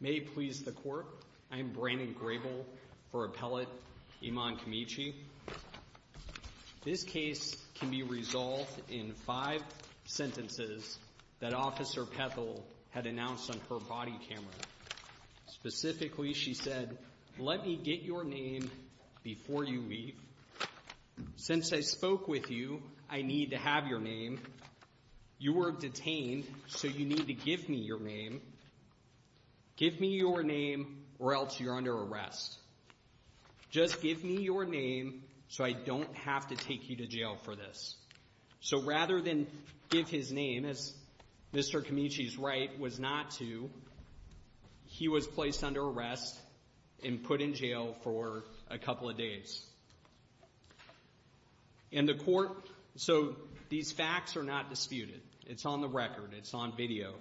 May it please the Court, I am Brandon Grable for Appellate Iman Kimichi. This case can be resolved in five sentences that Officer Pethel had announced on her body camera. Specifically, she said, let me get your name before you leave. Since I spoke with you, I need to have your name. You were detained, so you need to give me your name. Give me your name or else you're under arrest. Just give me your name so I don't have to take you to jail for this. So rather than give his name, as Mr. Kimichi's right was not to, he was placed under arrest and put in jail for a couple of days. And the Court, so these facts are not disputed. It's on the record. It's on video.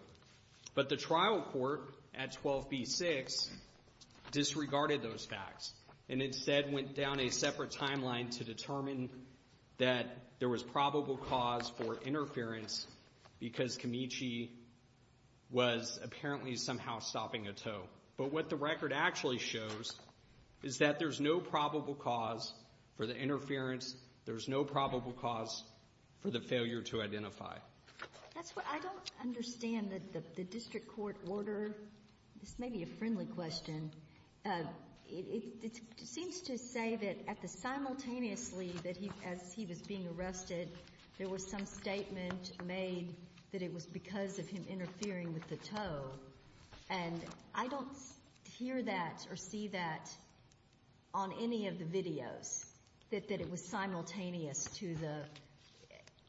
But the trial court at 12b-6 disregarded those facts and instead went down a separate timeline to determine that there was probable cause for interference because Kimichi was apparently somehow stopping a tow. But what the record actually shows is that there's no probable cause for the interference. There's no probable cause for the failure to identify. That's what I don't understand that the district court order, this may be a friendly question. It seems to say that at the simultaneously that he, as he was being arrested, there was some statement made that it was because of him interfering with the tow. And I don't hear that or see that on any of the videos, that it was simultaneous to the,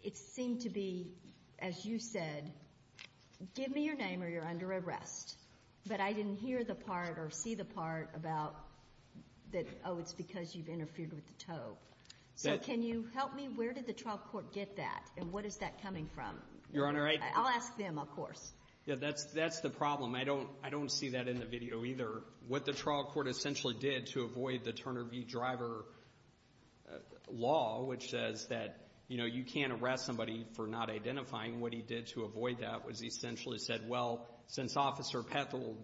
it seemed to be, as you said, give me your name or you're under arrest. But I didn't hear the part or see the part about that, oh, it's because you've interfered with the tow. So can you help me? Where did the trial court get that? And what is that coming from? Your Honor, I'll ask them, of course. Yeah, that's, that's the problem. I don't, I don't see that in the video either. What the trial court essentially did to avoid the Turner v. Driver law, which says that, you know, you can't arrest somebody for not identifying. What he did to avoid that was he essentially said, well, since Officer Pethold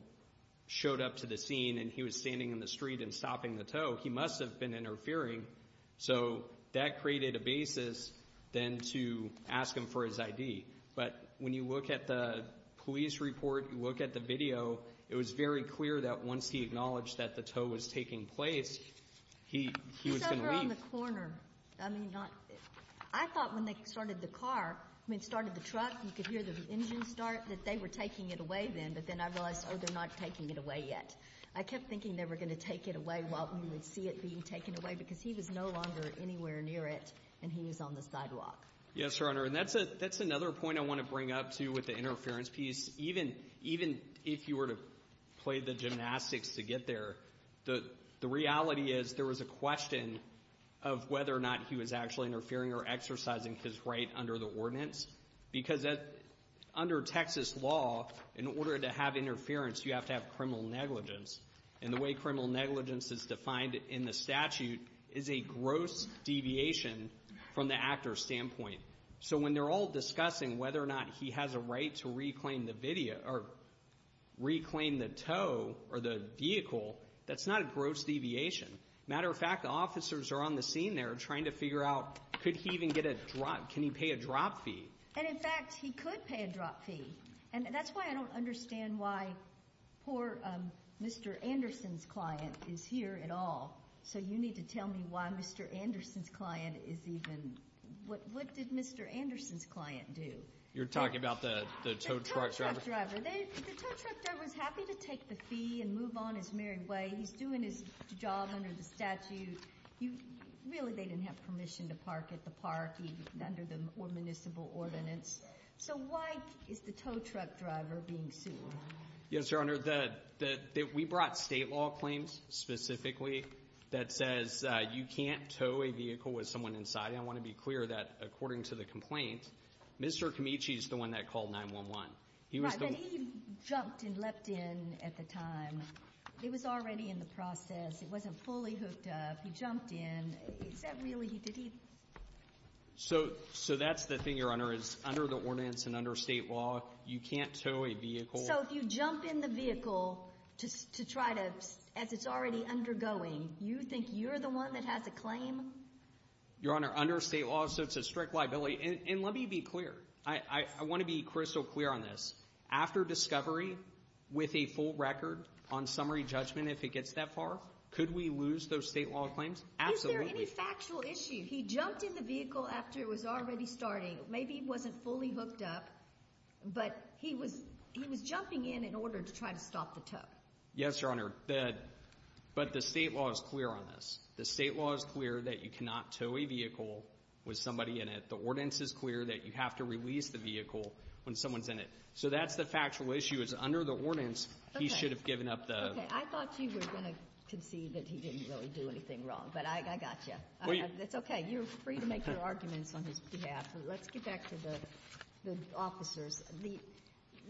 showed up to the scene and he was standing in the street and stopping the tow, he must have been interfering. So that created a basis then to ask him for his ID. But when you look at the police report, you look at the video, it was very clear that once he acknowledged that the tow was taking place, he, he was going to leave. He's over on the corner. I mean, not, I thought when they started the car, I mean, started the truck, you could hear the engine start, that they were taking it away then. But then I realized, oh, they're not taking it away yet. I kept thinking they were going to take it away while we would see it being taken away because he was no longer anywhere near it and he was on the sidewalk. Yes, Your Honor. And that's a, that's another point I want to bring up too with the interference piece. Even, even if you were to play the gymnastics to get there, the reality is there was a question of whether or not he was actually interfering or exercising his right under the ordinance. Because under Texas law, in order to have interference, you have to have criminal negligence. And the way criminal negligence is defined in the statute is a gross deviation from the actor's standpoint. So when they're all discussing whether or not he has a right to reclaim the video, or reclaim the tow or the vehicle, that's not a gross deviation. Matter of fact, officers are on the scene there trying to figure out, could he even get a drop, can he pay a drop fee? And in fact, he could pay a drop fee. And that's why I don't understand why poor Mr. Anderson's client is here at all. So you need to tell me why Mr. Anderson's client is even, what did Mr. Anderson's client do? You're talking about the tow truck driver? The tow truck driver, the tow truck driver's happy to take the fee and move on his merry way. He's doing his job under the statute. Really, they didn't have permission to park at the park or under the municipal ordinance. So why is the tow truck driver being sued? Yes, Your Honor, we brought state law claims, specifically, that says you can't tow a vehicle with someone inside. I want to be clear that according to the complaint, Mr. Camichi is the one that called 911. Right, but he jumped and leapt in at the time. It was already in the process. It wasn't fully hooked up. He jumped in. Is that really, did he? So that's the thing, Your Honor, is under the ordinance and under state law, you can't tow a vehicle. So if you jump in the vehicle to try to, as it's already undergoing, you think you're the one that has a claim? Your Honor, under state law, so it's a strict liability. And let me be clear, I want to be crystal clear on this. After discovery, with a full record on summary judgment, if it gets that far, could we lose those state law claims? Absolutely. Is there any factual issue? He jumped in the vehicle after it was already starting. Maybe he wasn't fully hooked up, but he was jumping in in order to try to stop the tow. Yes, Your Honor, but the state law is clear on this. The state law is clear that you cannot tow a vehicle with somebody in it. The ordinance is clear that you have to release the vehicle when someone's in it. So that's the factual issue, is under the ordinance, he should have given up the. Okay, I thought you were going to concede that he didn't really do anything wrong, but I got you. It's okay. You're free to make your arguments on his behalf. Let's get back to the officers.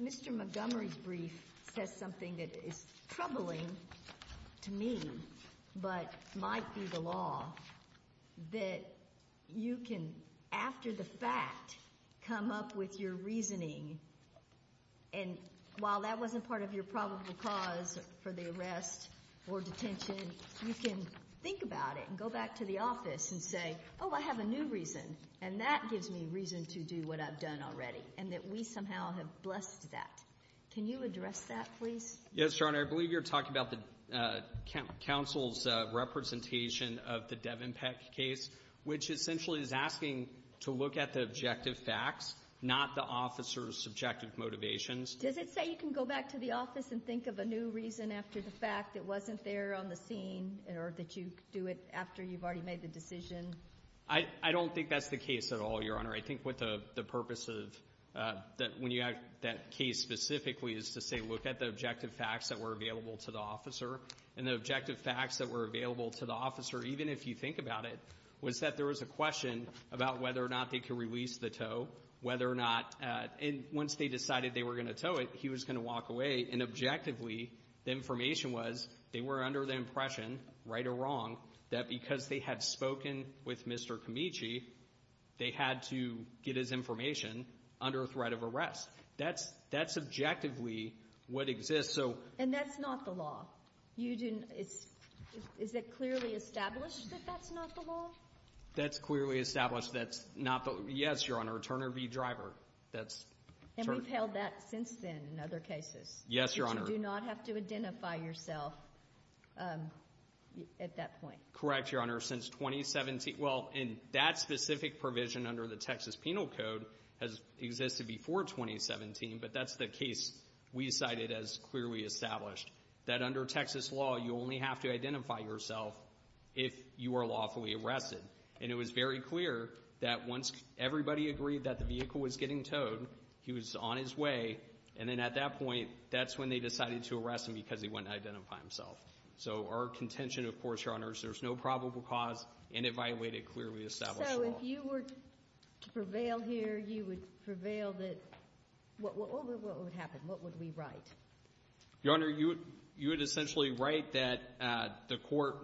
Mr. Montgomery's brief says something that is troubling to me, but might be the law, that you can, after the fact, come up with your reasoning. And while that wasn't part of your probable cause for the arrest or detention, you can think about it and go back to the office and say, oh, I have a new reason, and that gives me reason to do what I've done already, and that we somehow have blessed that. Can you address that, please? Yes, Your Honor. I believe you're talking about the counsel's representation of the Devenpeck case, which essentially is asking to look at the objective facts, not the officer's subjective motivations. Does it say you can go back to the office and think of a new reason after the fact, it wasn't there on the scene, or that you do it after you've already made the decision? I don't think that's the case at all, Your Honor. I think what the purpose of when you have that case specifically is to say, look at the objective facts that were available to the officer, and the objective facts that were available to the officer, even if you think about it, was that there was a question about whether or not they could release the tow, whether or not, and once they decided they were going to tow it, he was going to walk away, and objectively, the information was they were under the impression, right or wrong, that because they had spoken with Mr. Camichi, they had to get his information under threat of arrest. That's objectively what exists, so. And that's not the law? You didn't, it's, is it clearly established that that's not the law? That's clearly established that's not the, yes, Your Honor, Turner v. Driver, that's. And we've held that since then in other cases. Yes, Your Honor. You do not have to identify yourself at that point? Correct, Your Honor. Since 2017, well, and that specific provision under the Texas Penal Code has existed before 2017, but that's the case we cited as clearly established, that under Texas law, you only have to identify yourself if you are lawfully arrested. And it was very clear that once everybody agreed that the vehicle was getting towed, he was on his way, and then at that point, that's when they decided to arrest him because he wouldn't identify himself. So our contention, of course, Your Honor, is there's no probable cause, and it violated clearly established law. So if you were to prevail here, you would prevail that, what would happen? What would we write? Your Honor, you would essentially write that the court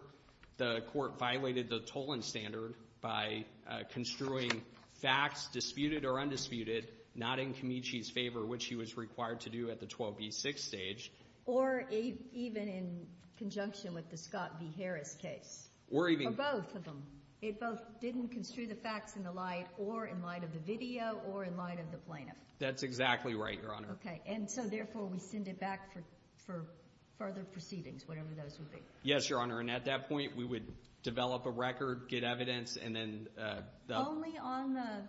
violated the tolling standard by construing facts disputed or undisputed, not in Camichi's favor, which he was required to do at the 12B6 stage. Or even in conjunction with the Scott v. Harris case. Or even... Or both of them. It both didn't construe the facts in the light, or in light of the video, or in light of the plaintiff. That's exactly right, Your Honor. Okay, and so therefore, we send it back for further proceedings, whatever those would be. Yes, Your Honor, and at that point, we would develop a record, get evidence, and then... Only on the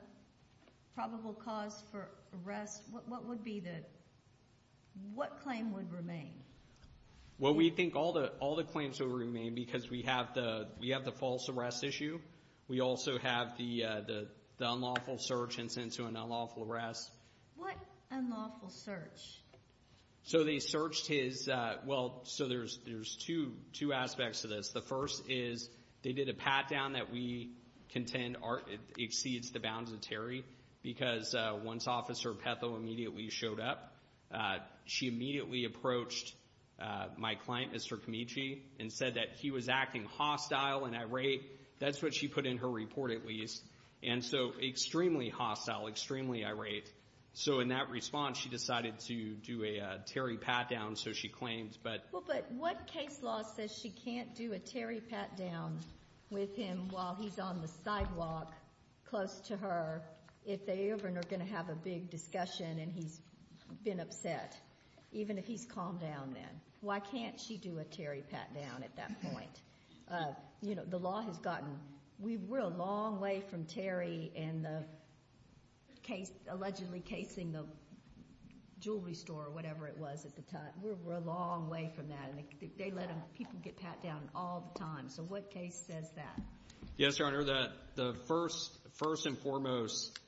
probable cause for arrest, what would be the, what claim would remain? Well, we think all the claims would remain because we have the false arrest issue. We also have the unlawful search and sent to an unlawful arrest. What unlawful search? So they searched his... Well, so there's two aspects to this. The first is, they did a pat-down that we contend exceeds the bounds of Terry. Because once Officer Petho immediately showed up, she immediately approached my client, Mr. Camichi, and said that he was acting hostile and irate. That's what she put in her report, at least. And so, extremely hostile, extremely irate. So in that response, she decided to do a Terry pat-down, so she claimed, but... Well, but what case law says she can't do a Terry pat-down with him while he's on the sidewalk close to her if they ever are going to have a big discussion and he's been upset, even if he's calmed down then? Why can't she do a Terry pat-down at that point? You know, the law has gotten... We're a long way from Terry and the case allegedly casing the jewelry store or whatever it was at the time. We're a long way from that, and they let people get pat-downs all the time. So what case says that? Yes, Your Honor, the first and foremost,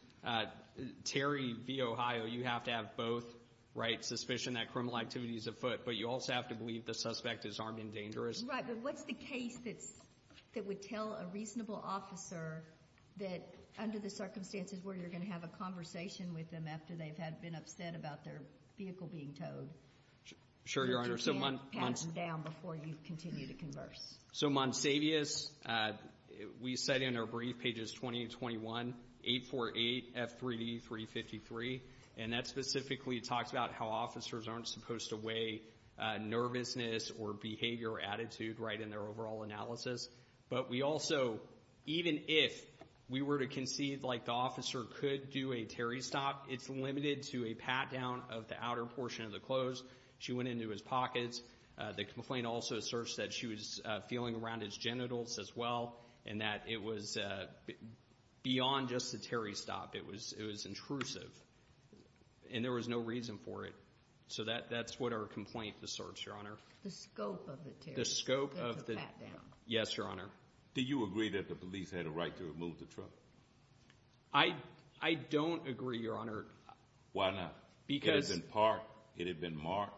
Terry v. Ohio, you have to have both, right? Suspicion that criminal activity is afoot, but you also have to believe the suspect is armed and dangerous. Right, but what's the case that would tell a reasonable officer that, under the circumstances where you're going to have a conversation with them after they've been upset about their vehicle being towed... Sure, Your Honor. ...that you can't pat them down before you continue to converse? So Monsavius, we said in our brief, pages 20 and 21, 848 F3D 353, and that specifically talks about how officers aren't supposed to weigh nervousness or behavior or attitude right in their overall analysis. But we also, even if we were to concede like the officer could do a Terry stop, it's limited to a pat-down of the outer portion of the clothes. She went into his pockets. The complaint also asserts that she was feeling around his genitals as well, and that it was beyond just the Terry stop. It was intrusive, and there was no reason for it. So that's what our complaint asserts, Your Honor. The scope of the Terry stop. The scope of the... That took a pat-down. Yes, Your Honor. Do you agree that the police had a right to remove the truck? I don't agree, Your Honor. Why not? Because... It had been parked. It had been marked.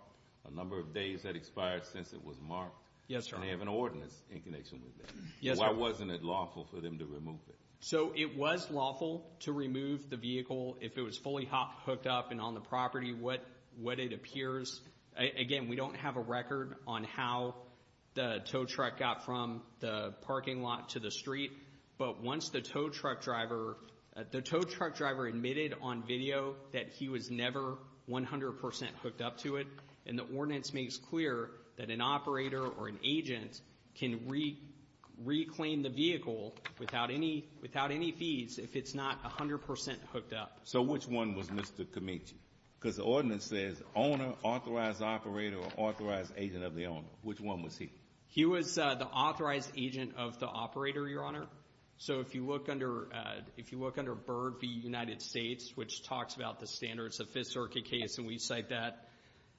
A number of days had expired since it was marked. Yes, Your Honor. And they have an ordinance in connection with that. Yes, Your Honor. Why wasn't it lawful for them to remove it? So it was lawful to remove the vehicle if it was fully hooked up and on the property, what it appears. Again, we don't have a record on how the tow truck got from the parking lot to the street. But once the tow truck driver... The tow truck driver admitted on video that he was never 100% hooked up to it. And the ordinance makes clear that an operator or an agent can reclaim the vehicle without any fees if it's not 100% hooked up. So which one was Mr. Camici? Because the ordinance says owner, authorized operator, or authorized agent of the owner. Which one was he? He was the authorized agent of the operator, Your Honor. So if you look under BIRB v. United States, which talks about the standards of Fifth Circuit case, and we cite that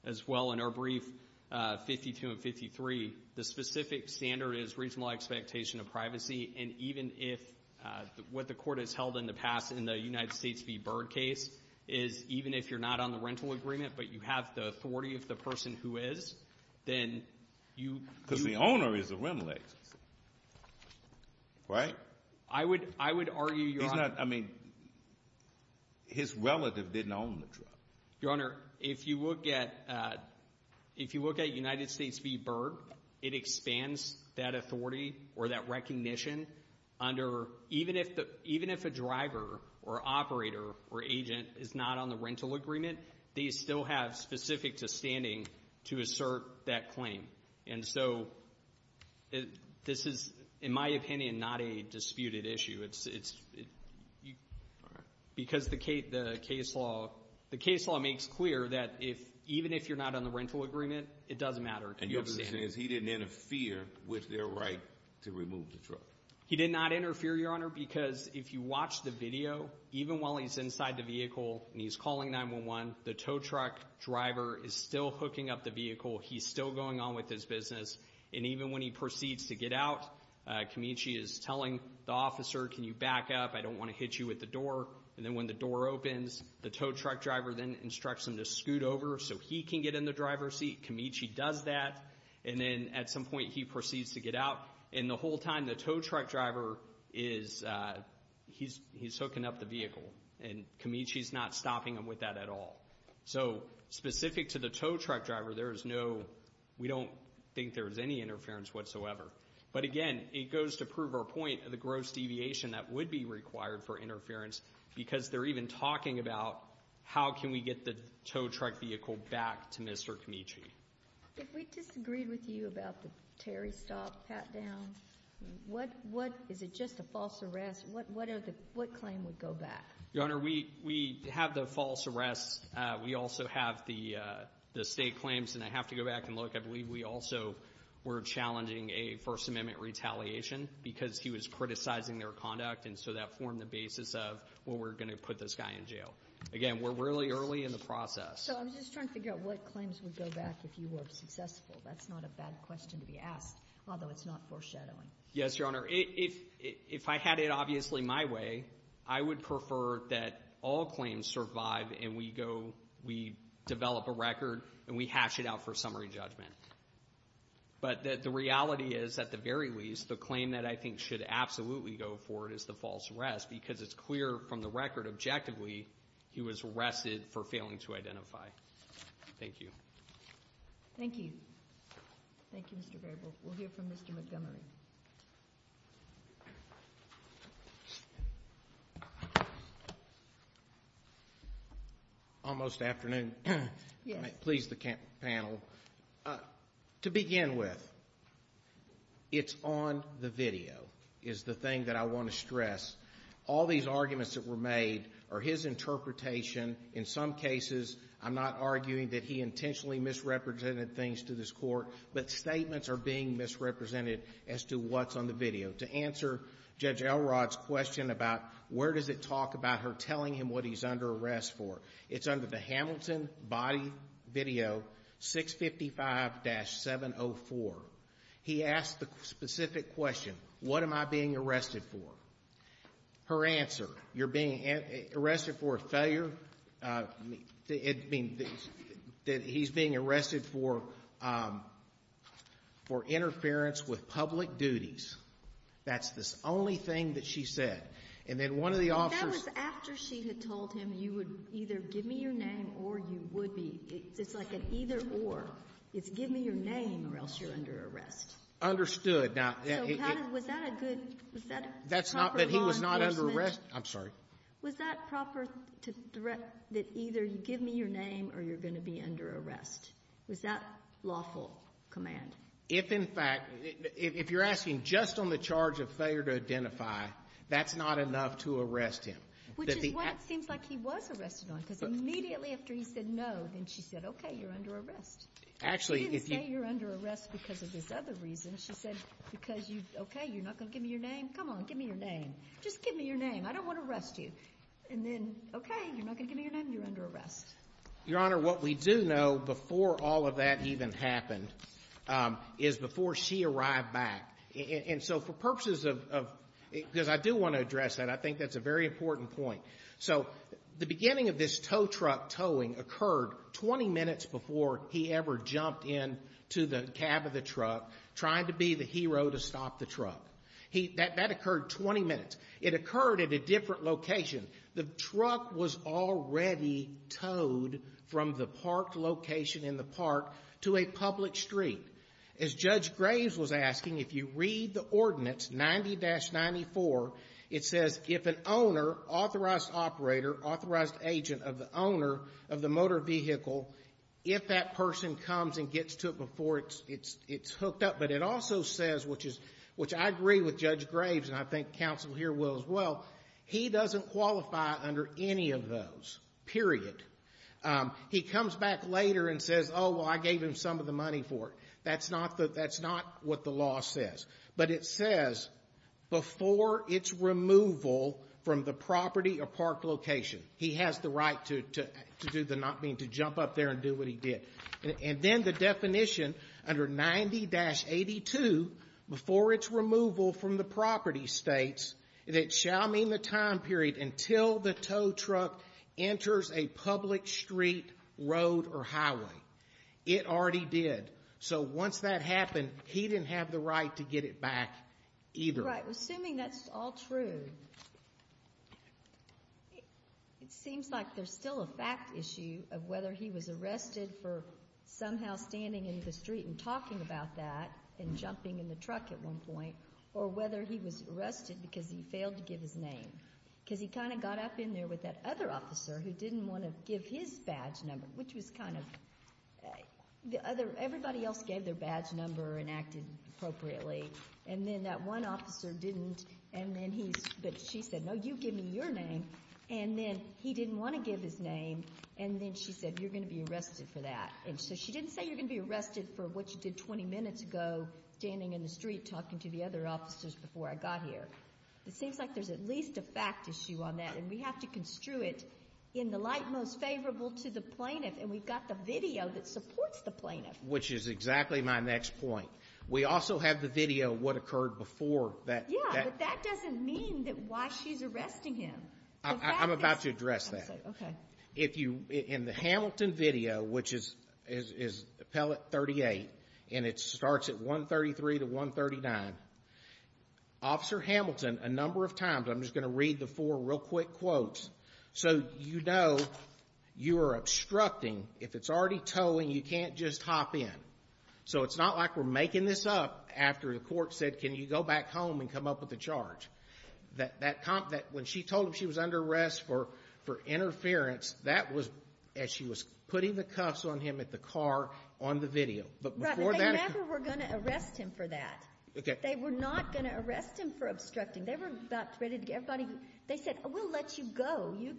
as well in our brief, 52 and 53, the specific standard is reasonable expectation of privacy. And even if what the court has held in the past in the United States v. BIRB case is even if you're not on the rental agreement, but you have the authority of the person who is, then you... Because the owner is a rimless, right? I would argue, Your Honor... I mean, his relative didn't own the truck. Your Honor, if you look at United States v. BIRB, it expands that authority or that recognition under... Even if a driver or operator or agent is not on the rental agreement, they still have specific to standing to assert that claim. And so this is, in my opinion, not a disputed issue. It's because the case law makes clear that even if you're not on the rental agreement, it doesn't matter. And your position is he didn't interfere with their right to remove the truck? He did not interfere, Your Honor, because if you watch the video, even while he's inside the vehicle and he's calling 911, the tow truck driver is still hooking up the vehicle. He's still going on with his business. And even when he proceeds to get out, Camiche is telling the officer, can you back up? I don't want to hit you with the door. And then when the door opens, the tow truck driver then instructs him to scoot over so he can get in the driver's seat. Camiche does that. And then at some point, he proceeds to get out. And the whole time, the tow truck driver is... He's hooking up the vehicle. And Camiche's not stopping him with that at all. So specific to the tow truck driver, there is no... We don't think there is any interference whatsoever. But again, it goes to prove our point of the gross deviation that would be required for interference, because they're even talking about how can we get the tow truck vehicle back to Mr. Camiche. If we disagreed with you about the Terry stop, pat down, what... Is it just a false arrest? What claim would go back? Your Honor, we have the false arrests. We also have the state claims. And I have to go back and look. I believe we also were challenging a First Amendment retaliation because he was criticizing their conduct. And so that formed the basis of what we're going to put this guy in jail. Again, we're really early in the process. So I'm just trying to figure out what claims would go back if you were successful. That's not a bad question to be asked, although it's not foreshadowing. Yes, Your Honor. If I had it obviously my way, I would prefer that all claims survive and we go, we develop a record, and we hash it out for summary judgment. But the reality is, at the very least, the claim that I think should absolutely go forward is the false arrest, because it's clear from the record, objectively, he was arrested for failing to identify. Thank you. Thank you. Thank you, Mr. Grable. We'll hear from Mr. Montgomery. Almost afternoon. Yes. Please, the panel. To begin with, it's on the video, is the thing that I want to stress. All these arguments that were made are his interpretation. In some cases, I'm not arguing that he intentionally misrepresented things to this Court. But statements are being misrepresented as to what's on the video. To answer Judge Elrod's question about where does it talk about her telling him what he's under arrest for, it's under the Hamilton Body Video 655-704. He asked the specific question, what am I being arrested for? Her answer, you're being arrested for a failure, I mean, that he's being arrested for interference with public duties. That's the only thing that she said. And then one of the officers That was after she had told him you would either give me your name or you would be. It's like an either or. It's give me your name or else you're under arrest. Understood. Now, that's not that he was not under arrest. I'm sorry. Was that proper to threat that either you give me your name or you're going to be under arrest? Was that lawful command? If, in fact, if you're asking just on the charge of failure to identify, that's not enough to arrest him. Which is what it seems like he was arrested on, because immediately after he said no, then she said, okay, you're under arrest. Actually, if you say you're under arrest because of this other reason, she said, because you, okay, you're not going to give me your name. Come on, give me your name. Just give me your name. I don't want to arrest you. And then, okay, you're not going to give me your name. You're under arrest. Your Honor, what we do know before all of that even happened is before she arrived back, and so for purposes of, because I do want to address that. I think that's a very important point. So the beginning of this tow truck towing occurred 20 minutes before he ever jumped into the cab of the truck trying to be the hero to stop the truck. That occurred 20 minutes. It occurred at a different location. The truck was already towed from the parked location in the park to a public street. As Judge Graves was asking, if you read the ordinance 90-94, it says if an owner, authorized operator, authorized agent of the owner of the motor vehicle, if that person comes and gets to it before it's hooked up, but it also says, which I agree with Judge Graves, and I think counsel here will as well, he doesn't qualify under any of those, period. He comes back later and says, oh, well, I gave him some of the money for it. That's not what the law says. But it says before its removal from the property or parked location, he has the right to do the, not mean to jump up there and do what he did. And then the definition under 90-82, before its removal from the property, states that it shall mean the time period until the tow truck enters a public street, road, or highway. It already did. So once that happened, he didn't have the right to get it back either. Assuming that's all true, it seems like there's still a fact issue of whether he was arrested for somehow standing in the street and talking about that and jumping in the truck at one point, or whether he was arrested because he failed to give his name, because he kind of got up in there with that other officer who didn't want to give his badge number, which was kind of, everybody else gave their badge number and acted appropriately, and then that one officer didn't, and then he, but she said, no, you give me your name. And then he didn't want to give his name, and then she said, you're going to be arrested for that. And so she didn't say you're going to be arrested for what you did 20 minutes ago, standing in the street talking to the other officers before I got here. It seems like there's at least a fact issue on that, and we have to construe it in the light most favorable to the plaintiff. And we've got the video that supports the plaintiff. Which is exactly my next point. We also have the video of what occurred before that. Yeah, but that doesn't mean that why she's arresting him. I'm about to address that. Okay. If you, in the Hamilton video, which is appellate 38, and it starts at 133 to 139, Officer Hamilton, a number of times, I'm just going to read the four real quick quotes, so you know you are obstructing, if it's already towing, you can't just hop in. So it's not like we're making this up after the court said, can you go back home and come up with a charge. That comp, that when she told him she was under arrest for interference, that was as she was putting the cuffs on him at the car on the video. Right, but they never were going to arrest him for that. Okay. They were not going to arrest him for obstructing. They were about ready to get everybody. They said, we'll let you go. You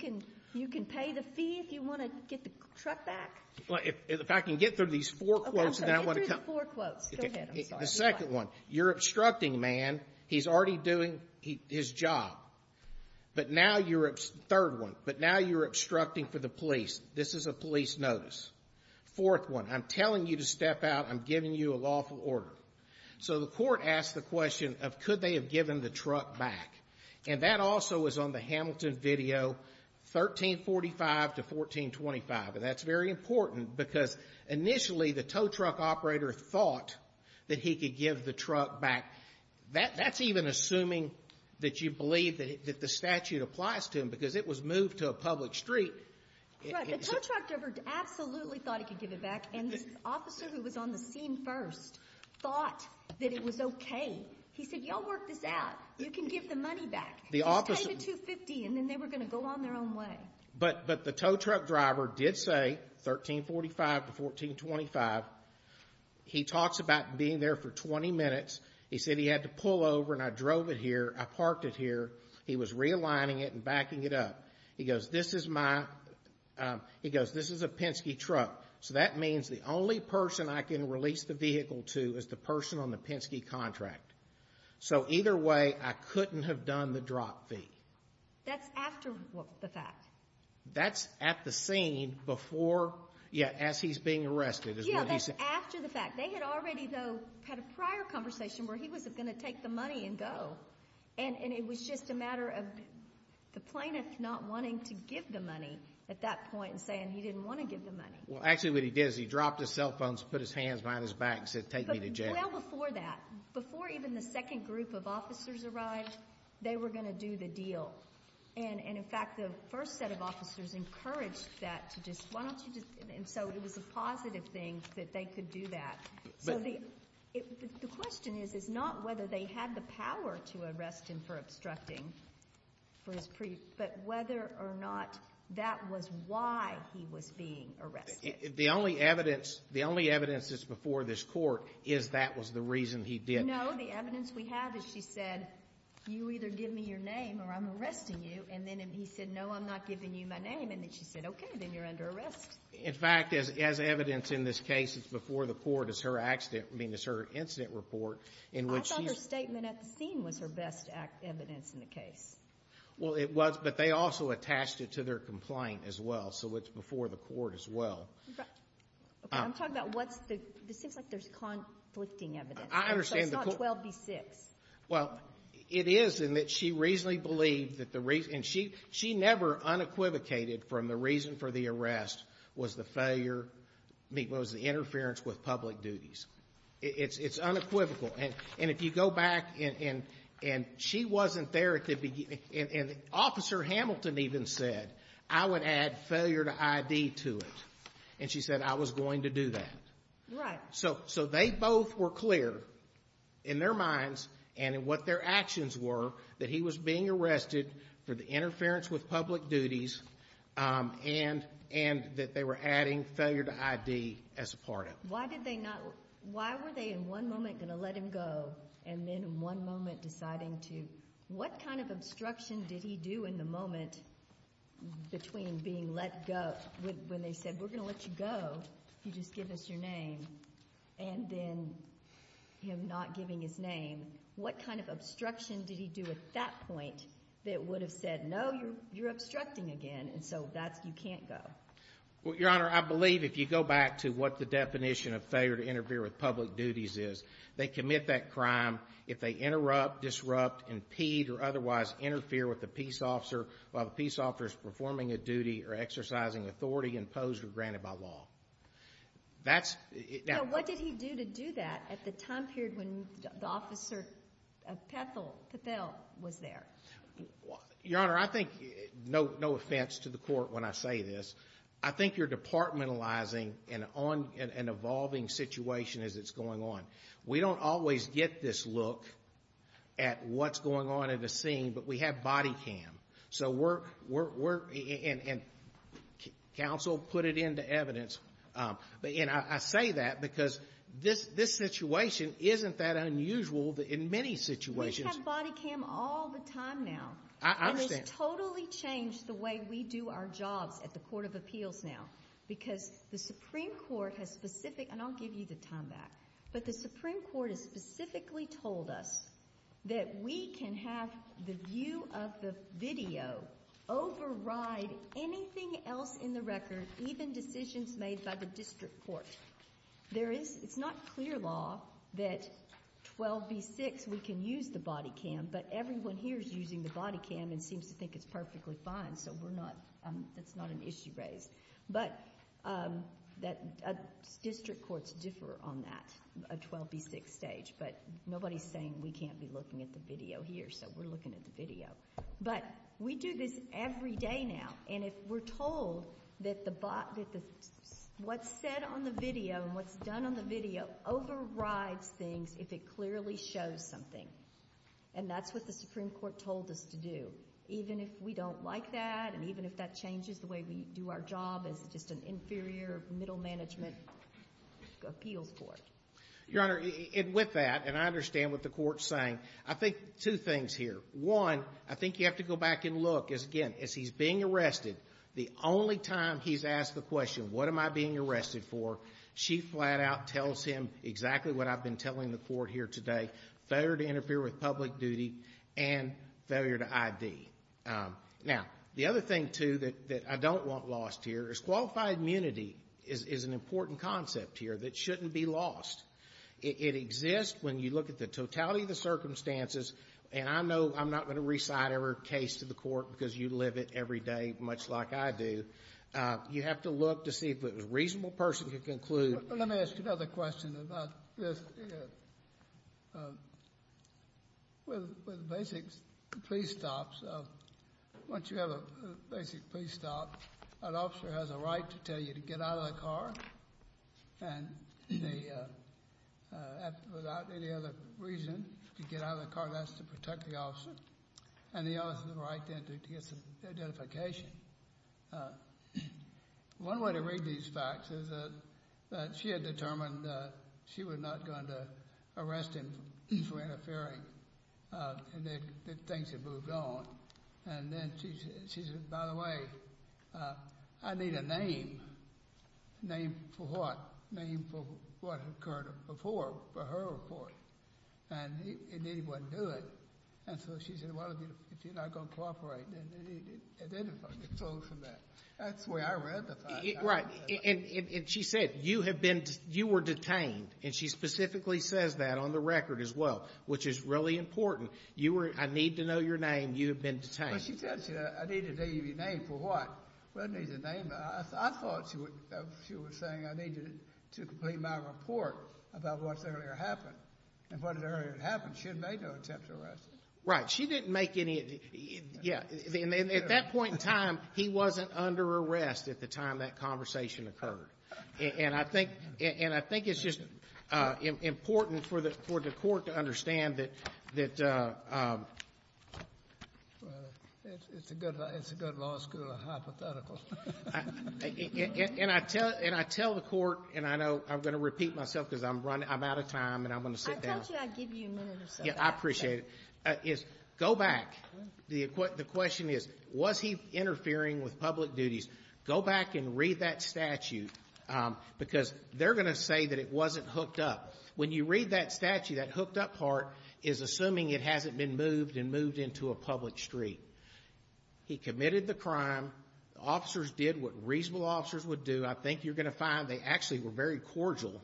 can pay the fee if you want to get the truck back. Well, if I can get through these four quotes, then I want to come. Get through the four quotes. Go ahead. I'm sorry. The second one, you're obstructing, man. He's already doing his job, but now you're, third one, but now you're obstructing for the police. This is a police notice. Fourth one, I'm telling you to step out. I'm giving you a lawful order. So the court asked the question of could they have given the truck back? And that also was on the Hamilton video, 1345 to 1425. And that's very important because initially the tow truck operator thought that he could give the truck back. That's even assuming that you believe that the statute applies to him because it was moved to a public street. Right. The tow truck driver absolutely thought he could give it back. And the officer who was on the scene first thought that it was okay. He said, y'all work this out. You can give the money back. He paid the 250, and then they were going to go on their own way. But the tow truck driver did say, 1345 to 1425, he talks about being there for 20 minutes. He said he had to pull over and I drove it here. I parked it here. He was realigning it and backing it up. He goes, this is my, he goes, this is a Penske truck. So that means the only person I can release the vehicle to is the person on the Penske contract. So either way, I couldn't have done the drop fee. That's after the fact. That's at the scene before, yeah, as he's being arrested. Yeah, that's after the fact. They had already, though, had a prior conversation where he was going to take the money and go. And it was just a matter of the plaintiff not wanting to give the money at that point and saying he didn't want to give the money. Well, actually what he did is he dropped his cell phones, put his hands behind his back and said, take me to jail. Well, before that, before even the second group of officers arrived, they were going to do the deal. And in fact, the first set of officers encouraged that to just, why don't you just, and so it was a positive thing that they could do that. So the question is, is not whether they had the power to arrest him for obstructing for his, but whether or not that was why he was being arrested. The only evidence, the only evidence that's before this court is that was the reason he did. No, the evidence we have is she said, you either give me your name or I'm arresting you. And then he said, no, I'm not giving you my name. And then she said, OK, then you're under arrest. In fact, as evidence in this case, it's before the court, it's her accident, I mean, it's her incident report in which she's. I thought her statement at the scene was her best evidence in the case. Well, it was, but they also attached it to their complaint as well. So it's before the court as well. OK, I'm talking about what's the, it seems like there's conflicting evidence. I understand. It's not 12 v. 6. Well, it is in that she reasonably believed that the reason, and she never unequivocated from the reason for the arrest was the failure, was the interference with public duties. It's unequivocal. And if you go back and she wasn't there at the beginning, and Officer Hamilton even said, I would add failure to ID to it. And she said, I was going to do that. Right. So they both were clear in their minds and in what their actions were that he was being arrested for the interference with public duties and that they were adding failure to ID as a part of it. Why did they not, why were they in one moment going to let him go and then in one moment deciding to, what kind of obstruction did he do in the moment between being let go, when they said, we're going to let you go if you just give us your name? And then him not giving his name. What kind of obstruction did he do at that point that would have said, no, you're obstructing again. And so that's, you can't go. Well, Your Honor, I believe if you go back to what the definition of failure to interfere with public duties is, they commit that crime if they interrupt, disrupt, impede, or otherwise interfere with the peace officer while the peace officer is performing a duty or exercising authority imposed or granted by law. That's. Now, what did he do to do that at the time period when the officer of Pethel was there? Your Honor, I think, no offense to the court when I say this, I think you're departmentalizing an evolving situation as it's going on. We don't always get this look at what's going on at a scene, but we have body cam. So we're, and counsel put it into evidence, and I say that because this situation isn't that unusual in many situations. We have body cam all the time now. I understand. And it's totally changed the way we do our jobs at the Court of Appeals now because the Supreme Court has specific, and I'll give you the time back. But the Supreme Court has specifically told us that we can have the view of the video override anything else in the record, even decisions made by the district court. There is, it's not clear law that 12b6, we can use the body cam, but everyone here is using the body cam and seems to think it's perfectly fine, so we're not, that's not an issue raised. But district courts differ on that, a 12b6 stage, but nobody's saying we can't be looking at the video here, so we're looking at the video. But we do this every day now, and if we're told that what's said on the video and what's done on the video overrides things if it clearly shows something, and that's what the Supreme Court told us to do. Even if we don't like that, and even if that changes the way we do our job as just an inferior middle management appeals court. Your Honor, and with that, and I understand what the court's saying, I think two things here. One, I think you have to go back and look, as again, as he's being arrested, the only time he's asked the question, what am I being arrested for, she flat out tells him exactly what I've been telling the court here today, failure to interfere with public duty and failure to ID. Now, the other thing, too, that I don't want lost here is qualified immunity is an important concept here that shouldn't be lost. It exists when you look at the totality of the circumstances, and I know I'm not going to recite every case to the court because you live it every day, much like I do. You have to look to see if it was a reasonable person to conclude. Let me ask you another question about this. With basic police stops, once you have a basic police stop, an officer has a right to tell you to get out of the car, and without any other reason, to get out of the car, that's to protect the officer, and the officer has the right then to get some identification. One way to read these facts is that she had determined that she was not going to arrest him for interfering, and that things had moved on, and then she said, by the way, I need a name, name for what, name for what occurred before, for her report, and he didn't want to do it, and so she said, well, if you're not going to cooperate, then he didn't want to cooperate. That's the way I read the fact. Right, and she said, you have been, you were detained, and she specifically says that on the record as well, which is really important. You were, I need to know your name. You have been detained. Well, she tells you, I need to know your name for what. Well, it needs a name. I thought she was saying I needed to complete my report about what's earlier happened, and what had earlier happened. She had made no attempt to arrest him. Right. She didn't make any, yeah. And at that point in time, he wasn't under arrest at the time that conversation occurred, and I think it's just important for the court to understand that. It's a good law school hypothetical. And I tell the court, and I know I'm going to repeat myself because I'm out of time, and I'm going to sit down. I told you I'd give you a minute or so. Yeah, I appreciate it. Go back. The question is, was he interfering with public duties? Go back and read that statute because they're going to say that it wasn't hooked up. When you read that statute, that hooked up part is assuming it hasn't been moved and moved into a public street. He committed the crime. Officers did what reasonable officers would do. I think you're going to find they actually were very cordial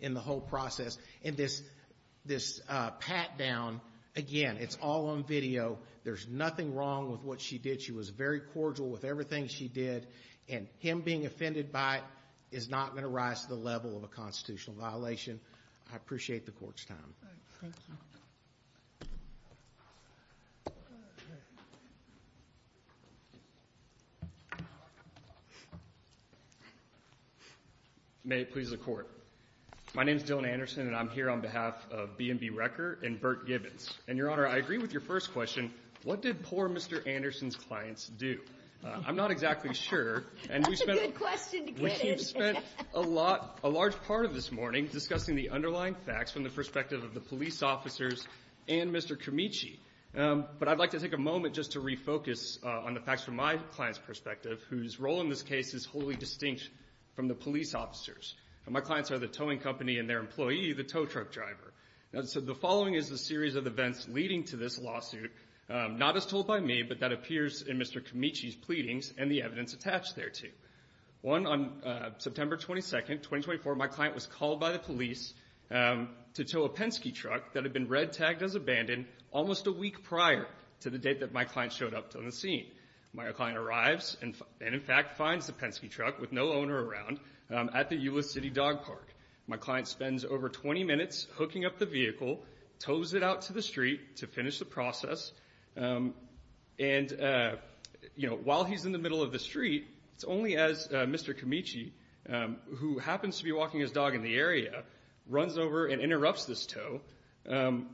in the whole process. And this pat down, again, it's all on video. There's nothing wrong with what she did. She was very cordial with everything she did, and him being offended by it is not going to rise to the level of a constitutional violation. I appreciate the court's time. May it please the court. My name is Dylan Anderson, and I'm here on behalf of B&B Wrecker and Burt Gibbons. And, Your Honor, I agree with your first question. What did poor Mr. Anderson's clients do? I'm not exactly sure. That's a good question to get in. We've spent a lot, a large part of this morning discussing the underlying facts from the perspective of the police officers and Mr. Camici. But I'd like to take a moment just to refocus on the facts from my client's perspective, whose role in this case is wholly distinct from the police officers. And my clients are the towing company and their employee, the tow truck driver. And so the following is the series of events leading to this lawsuit, not as told by me, but that appears in Mr. Camici's pleadings and the evidence attached thereto. One, on September 22nd, 2024, my client was called by the police to tow a Penske truck that had been red-tagged as abandoned almost a week prior to the date that my client showed up on the scene. My client arrives and, in fact, finds the Penske truck with no owner around at the Euless City Dog Park. My client spends over 20 minutes hooking up the vehicle, tows it out to the street to finish the process. And, you know, while he's in the middle of the street, it's only as Mr. Camici, who happens to be walking his dog in the area, runs over and interrupts this tow and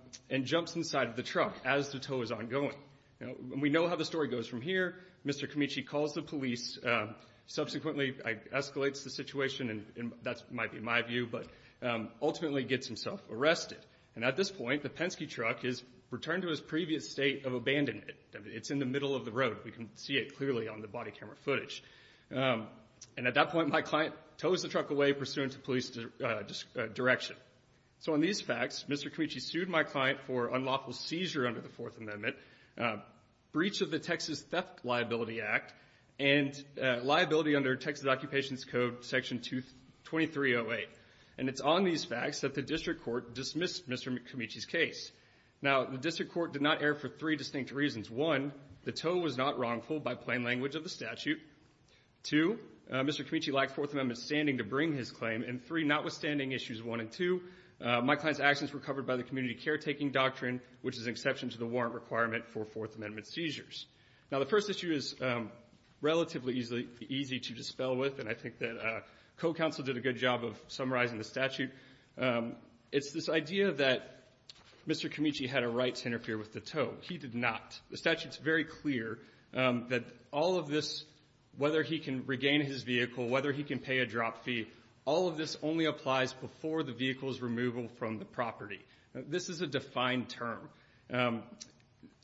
jumps inside of the truck as the tow is ongoing. And we know how the story goes from here. Mr. Camici calls the police, subsequently escalates the situation, and that might be my view, but ultimately gets himself arrested. And at this point, the Penske truck is returned to his previous state of abandonment. It's in the middle of the road. We can see it clearly on the body camera footage. And at that point, my client tows the truck away pursuant to police direction. So on these facts, Mr. Camici sued my client for unlawful seizure under the Fourth Amendment, breach of the Texas Theft Liability Act, and liability under Texas Occupations Code Section 2308. And it's on these facts that the district court dismissed Mr. Camici's case. Now, the district court did not err for three distinct reasons. One, the tow was not wrongful by plain language of the statute. Two, Mr. Camici lacked Fourth Amendment standing to bring his claim. And three, notwithstanding issues one and two, my client's actions were covered by the community caretaking doctrine, which is an exception to the warrant requirement for Fourth Amendment seizures. Now, the first issue is relatively easy to dispel with. And I think that co-counsel did a good job of summarizing the statute. It's this idea that Mr. Camici had a right to interfere with the tow. He did not. The statute's very clear that all of this, whether he can regain his vehicle, whether he can pay a drop fee. All of this only applies before the vehicle's removal from the property. This is a defined term.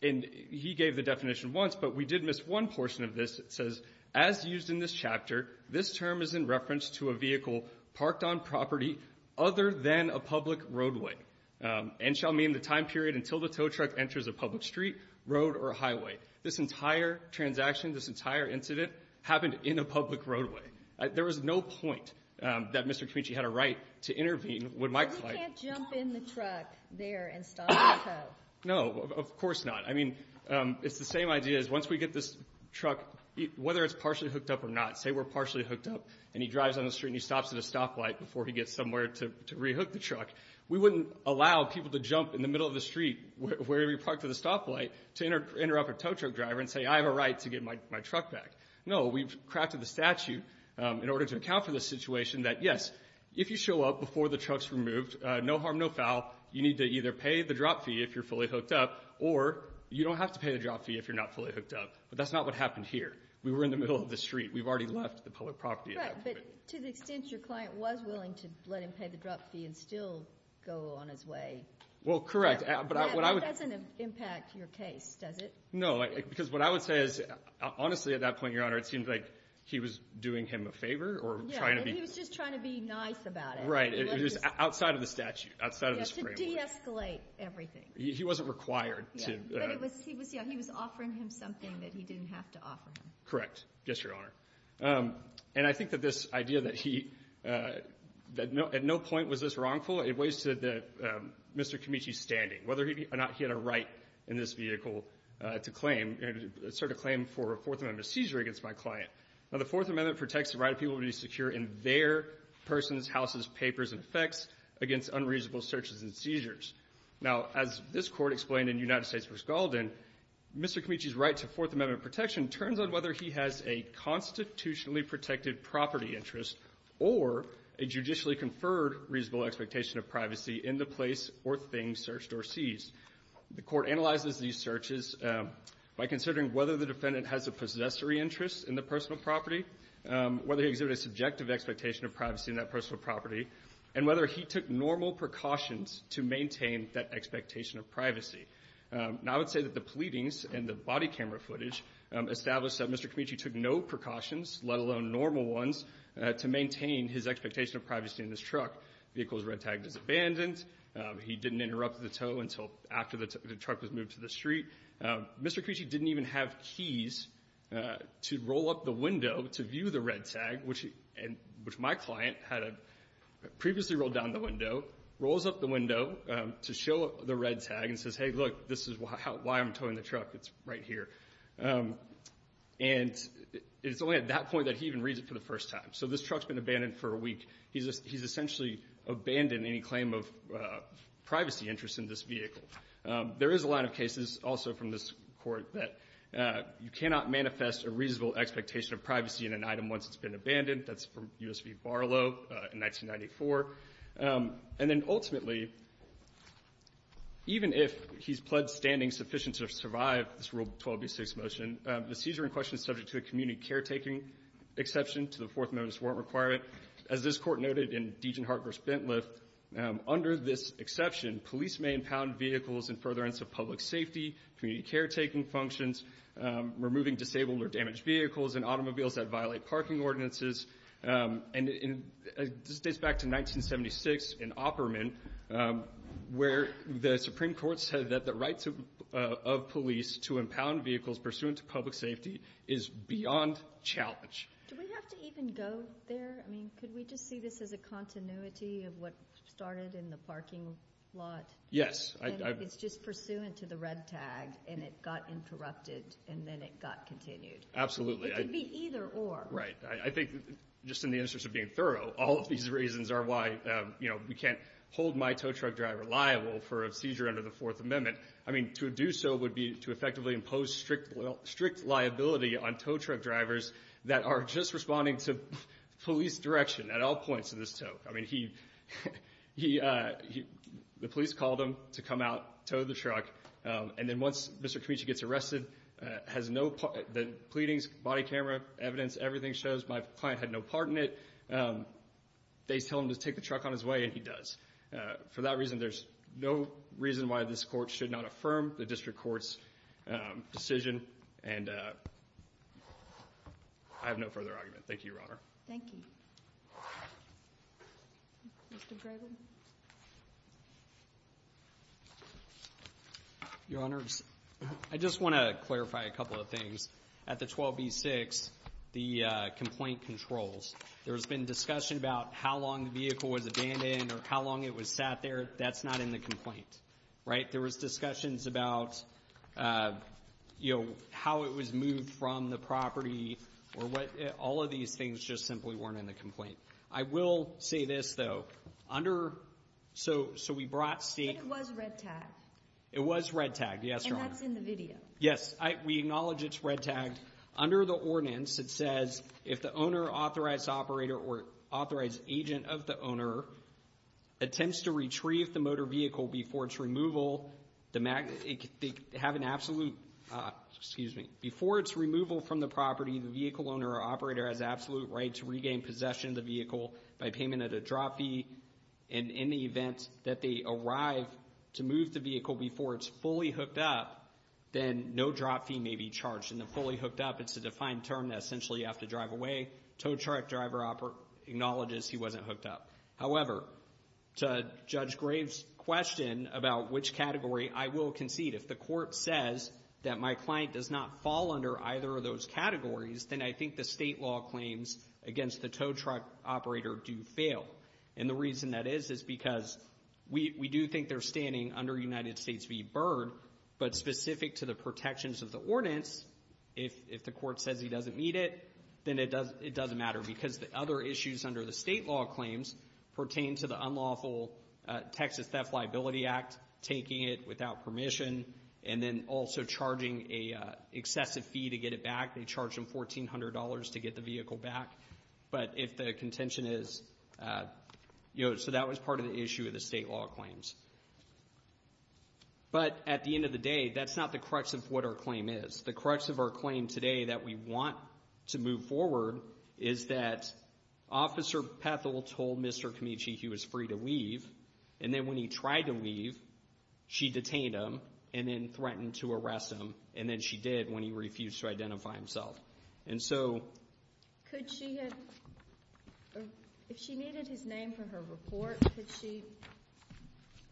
And he gave the definition once, but we did miss one portion of this. It says, as used in this chapter, this term is in reference to a vehicle parked on property other than a public roadway and shall mean the time period until the tow truck enters a public street, road, or highway. This entire transaction, this entire incident happened in a public roadway. There was no point that Mr. Camici had a right to intervene with my client. You can't jump in the truck there and stop the tow. No, of course not. I mean, it's the same idea as once we get this truck, whether it's partially hooked up or not, say we're partially hooked up and he drives on the street and he stops at a stoplight before he gets somewhere to re-hook the truck. We wouldn't allow people to jump in the middle of the street where he parked at a stoplight to interrupt a tow truck driver and say, I have a right to get my truck back. No, we've crafted the statute. In order to account for the situation that, yes, if you show up before the truck's removed, no harm, no foul. You need to either pay the drop fee if you're fully hooked up or you don't have to pay the drop fee if you're not fully hooked up. But that's not what happened here. We were in the middle of the street. We've already left the public property. Right. But to the extent your client was willing to let him pay the drop fee and still go on his way. Well, correct. But that doesn't impact your case, does it? No, because what I would say is, honestly, at that point, Your Honor, it seems like he was doing him a favor or trying to be. He was just trying to be nice about it. Right. It was outside of the statute, outside of the Supreme Court. To de-escalate everything. He wasn't required to. But he was offering him something that he didn't have to offer him. Correct. Yes, Your Honor. And I think that this idea that he, that at no point was this wrongful, it weighs to Mr. Camici's standing, whether or not he had a right in this vehicle to claim, assert a claim for a Fourth Amendment seizure against my client. Now, the Fourth Amendment protects the right of people to be secure in their persons, houses, papers, and effects against unreasonable searches and seizures. Now, as this Court explained in United States v. Gaulden, Mr. Camici's right to Fourth Amendment protection turns on whether he has a constitutionally protected property interest or a judicially conferred reasonable expectation of privacy in the place or thing searched or seized. The Court analyzes these searches by considering whether the defendant has a possessory interest in the personal property, whether he exhibited a subjective expectation of privacy in that personal property, and whether he took normal precautions to maintain that expectation of privacy. Now, I would say that the pleadings and the body camera footage established that Mr. Camici took no precautions, let alone normal ones, to maintain his expectation of privacy in this truck. Vehicle's red tag is abandoned. He didn't interrupt the tow until after the truck was moved to the street. Mr. Camici didn't even have keys to roll up the window to view the red tag, which my client had previously rolled down the window, rolls up the window to show the red tag and says, hey, look, this is why I'm towing the truck. It's right here. And it's only at that point that he even reads it for the first time. So this truck's been abandoned for a week. He's essentially abandoned any claim of privacy interest in this vehicle. There is a line of cases also from this Court that you cannot manifest a reasonable expectation of privacy in an item once it's been abandoned. That's from U.S. v. Barlow in 1994. And then ultimately, even if he's pled standing sufficient to survive this Rule 12b6 motion, the seizure in question is subject to a community caretaking exception to the Fourth Amendment's warrant requirement. As this Court noted in Degenhart v. Bentliff, under this exception, police may impound vehicles in furtherance of public safety, community caretaking functions, removing disabled or damaged vehicles, and automobiles that violate parking ordinances. And this dates back to 1976 in Opperman, where the Supreme Court said that the rights of police to impound vehicles pursuant to public safety is beyond challenge. Do we have to even go there? I mean, could we just see this as a continuity of what started in the parking lot? Yes. It's just pursuant to the red tag, and it got interrupted, and then it got continued. Absolutely. It could be either or. Right. I think just in the interest of being thorough, all of these reasons are why, you know, we can't hold my tow truck driver liable for a seizure under the Fourth Amendment. I mean, to do so would be to effectively impose strict liability on tow truck drivers that are just responding to police direction at all points of this tow. I mean, the police called him to come out, towed the truck. And then once Mr. Camichi gets arrested, the pleadings, body camera evidence, everything shows my client had no part in it. They tell him to take the truck on his way, and he does. For that reason, there's no reason why this court should not affirm the district court's decision. And I have no further argument. Thank you, Your Honor. Thank you. Your Honors, I just want to clarify a couple of things. At the 12B6, the complaint controls. There's been discussion about how long the vehicle was abandoned or how long it was sat there. That's not in the complaint, right? There was discussions about, you know, how it was moved from the property or what. All of these things just simply weren't in the complaint. I will say this, though. Under, so we brought state. But it was red-tagged. It was red-tagged, yes, Your Honor. And that's in the video. Yes, we acknowledge it's red-tagged. Under the ordinance, it says, if the owner, authorized operator, or authorized agent of the owner attempts to retrieve the motor vehicle before its removal, they have an absolute, excuse me, before its removal from the property, the vehicle owner or operator has absolute right to regain possession of the vehicle by payment of the drop fee. And in the event that they arrive to move the vehicle before it's fully hooked up, then no drop fee may be charged. And the fully hooked up, it's a defined term that essentially you have to drive away. Tow truck driver acknowledges he wasn't hooked up. However, to Judge Graves' question about which category, I will concede. If the court says that my client does not fall under either of those categories, then I think the state law claims against the tow truck operator do fail. And the reason that is is because we do think they're standing under United States v. Byrd. But specific to the protections of the ordinance, if the court says he doesn't meet it, then it doesn't matter because the other issues under the state law claims pertain to the unlawful Texas Theft Liability Act, taking it without permission, and then also charging an excessive fee to get it back. They charge them $1,400 to get the vehicle back. But if the contention is, you know, so that was part of the issue of the state law claims. But at the end of the day, that's not the crux of what our claim is. The crux of our claim today that we want to move forward is that Officer Pethel told Mr. Kamichi he was free to leave. And then when he tried to leave, she detained him and then threatened to arrest him. And then she did when he refused to identify himself. And so could she have, if she needed his name for her report, could she?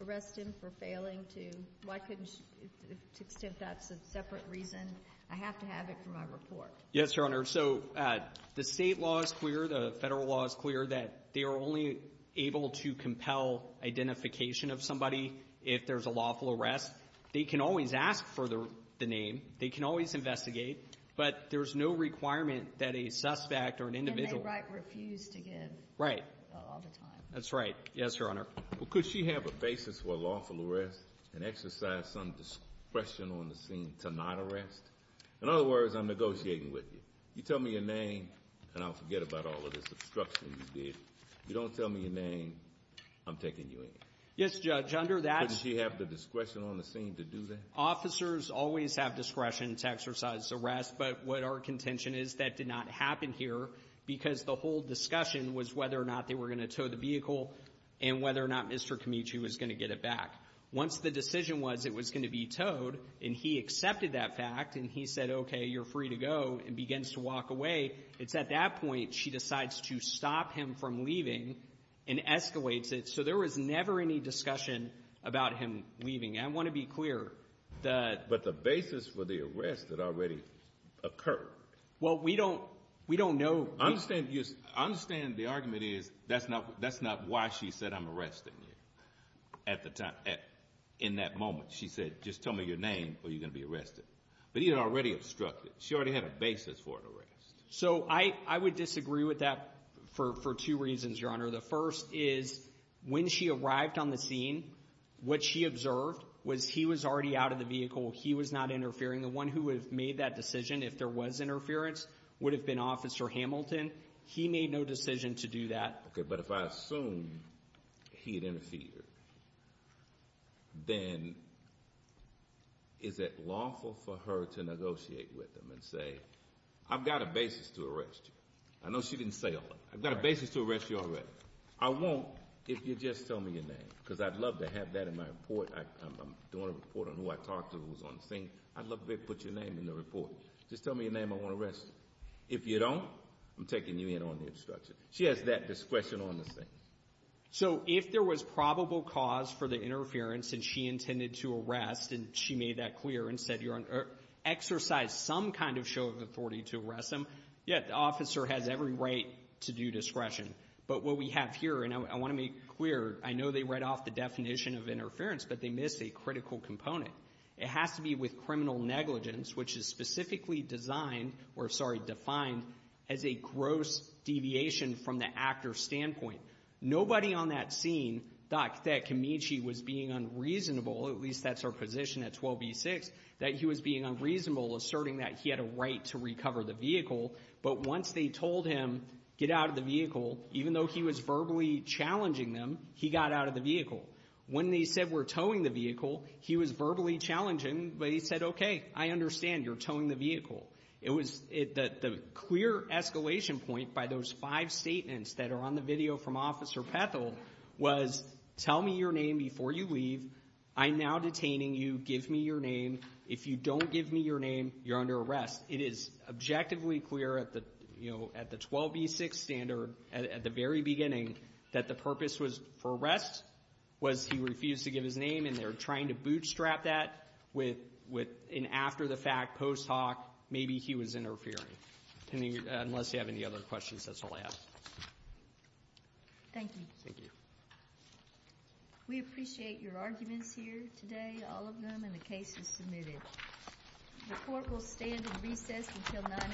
Arrest him for failing to, why couldn't she, to the extent that's a separate reason, I have to have it for my report. Yes, Your Honor. So the state law is clear. The federal law is clear that they are only able to compel identification of somebody if there's a lawful arrest. They can always ask for the name. They can always investigate. But there's no requirement that a suspect or an individual. And they refuse to give all the time. That's right. Yes, Your Honor. Well, could she have a basis for a lawful arrest and exercise some discretion on the scene to not arrest? In other words, I'm negotiating with you. You tell me your name and I'll forget about all of this obstruction you did. If you don't tell me your name, I'm taking you in. Yes, Judge, under that. Couldn't she have the discretion on the scene to do that? Officers always have discretion to exercise arrest. But what our contention is that did not happen here because the whole discussion was whether or not they were going to tow the vehicle. And whether or not Mr. Camichi was going to get it back. Once the decision was it was going to be towed and he accepted that fact and he said, okay, you're free to go and begins to walk away. It's at that point she decides to stop him from leaving and escalates it. So there was never any discussion about him leaving. I want to be clear that. But the basis for the arrest that already occurred. Well, we don't we don't know. I understand you understand the argument is that's not that's not why she said I'm arresting you at the time in that moment. She said, just tell me your name or you're going to be arrested. But he had already obstructed. She already had a basis for an arrest. So I would disagree with that for two reasons, Your Honor. The first is when she arrived on the scene, what she observed was he was already out of the vehicle. He was not interfering. The one who would have made that decision, if there was interference, would have been Officer Hamilton. He made no decision to do that. But if I assume he had interfered, then is it lawful for her to negotiate with him and say, I've got a basis to arrest you? I know she didn't say I've got a basis to arrest you already. I won't if you just tell me your name, because I'd love to have that in my report. I'm doing a report on who I talked to who was on the scene. I'd love to put your name in the report. Just tell me your name. I want to arrest you. If you don't, I'm taking you in on the obstruction. She has that discretion on the scene. So if there was probable cause for the interference and she intended to arrest and she made that clear and said, Your Honor, exercise some kind of show of authority to arrest him. Yet the officer has every right to do discretion. But what we have here, and I want to make clear, I know they read off the definition of interference, but they missed a critical component. It has to be with criminal negligence, which is specifically designed or, sorry, defined as a gross deviation from the actor's standpoint. Nobody on that scene thought that Camichi was being unreasonable, at least that's our position at 12b-6, that he was being unreasonable, asserting that he had a right to recover the vehicle. But once they told him get out of the vehicle, even though he was verbally challenging them, he got out of the vehicle. When they said we're towing the vehicle, he was verbally challenging, but he said, OK, I understand you're towing the vehicle. It was the clear escalation point by those five statements that are on the video from Officer Pethel was tell me your name before you leave. I'm now detaining you. Give me your name. If you don't give me your name, you're under arrest. It is objectively clear at the, you know, at the 12b-6 standard at the very beginning that the purpose was for arrest was he refused to give his name, and they're trying to bootstrap that with an after-the-fact post hoc, maybe he was interfering, unless you have any other questions. That's all I have. Thank you. Thank you. We appreciate your arguments here today, all of them, and the case is submitted. The court will stand in recess until 9 a.m. tomorrow.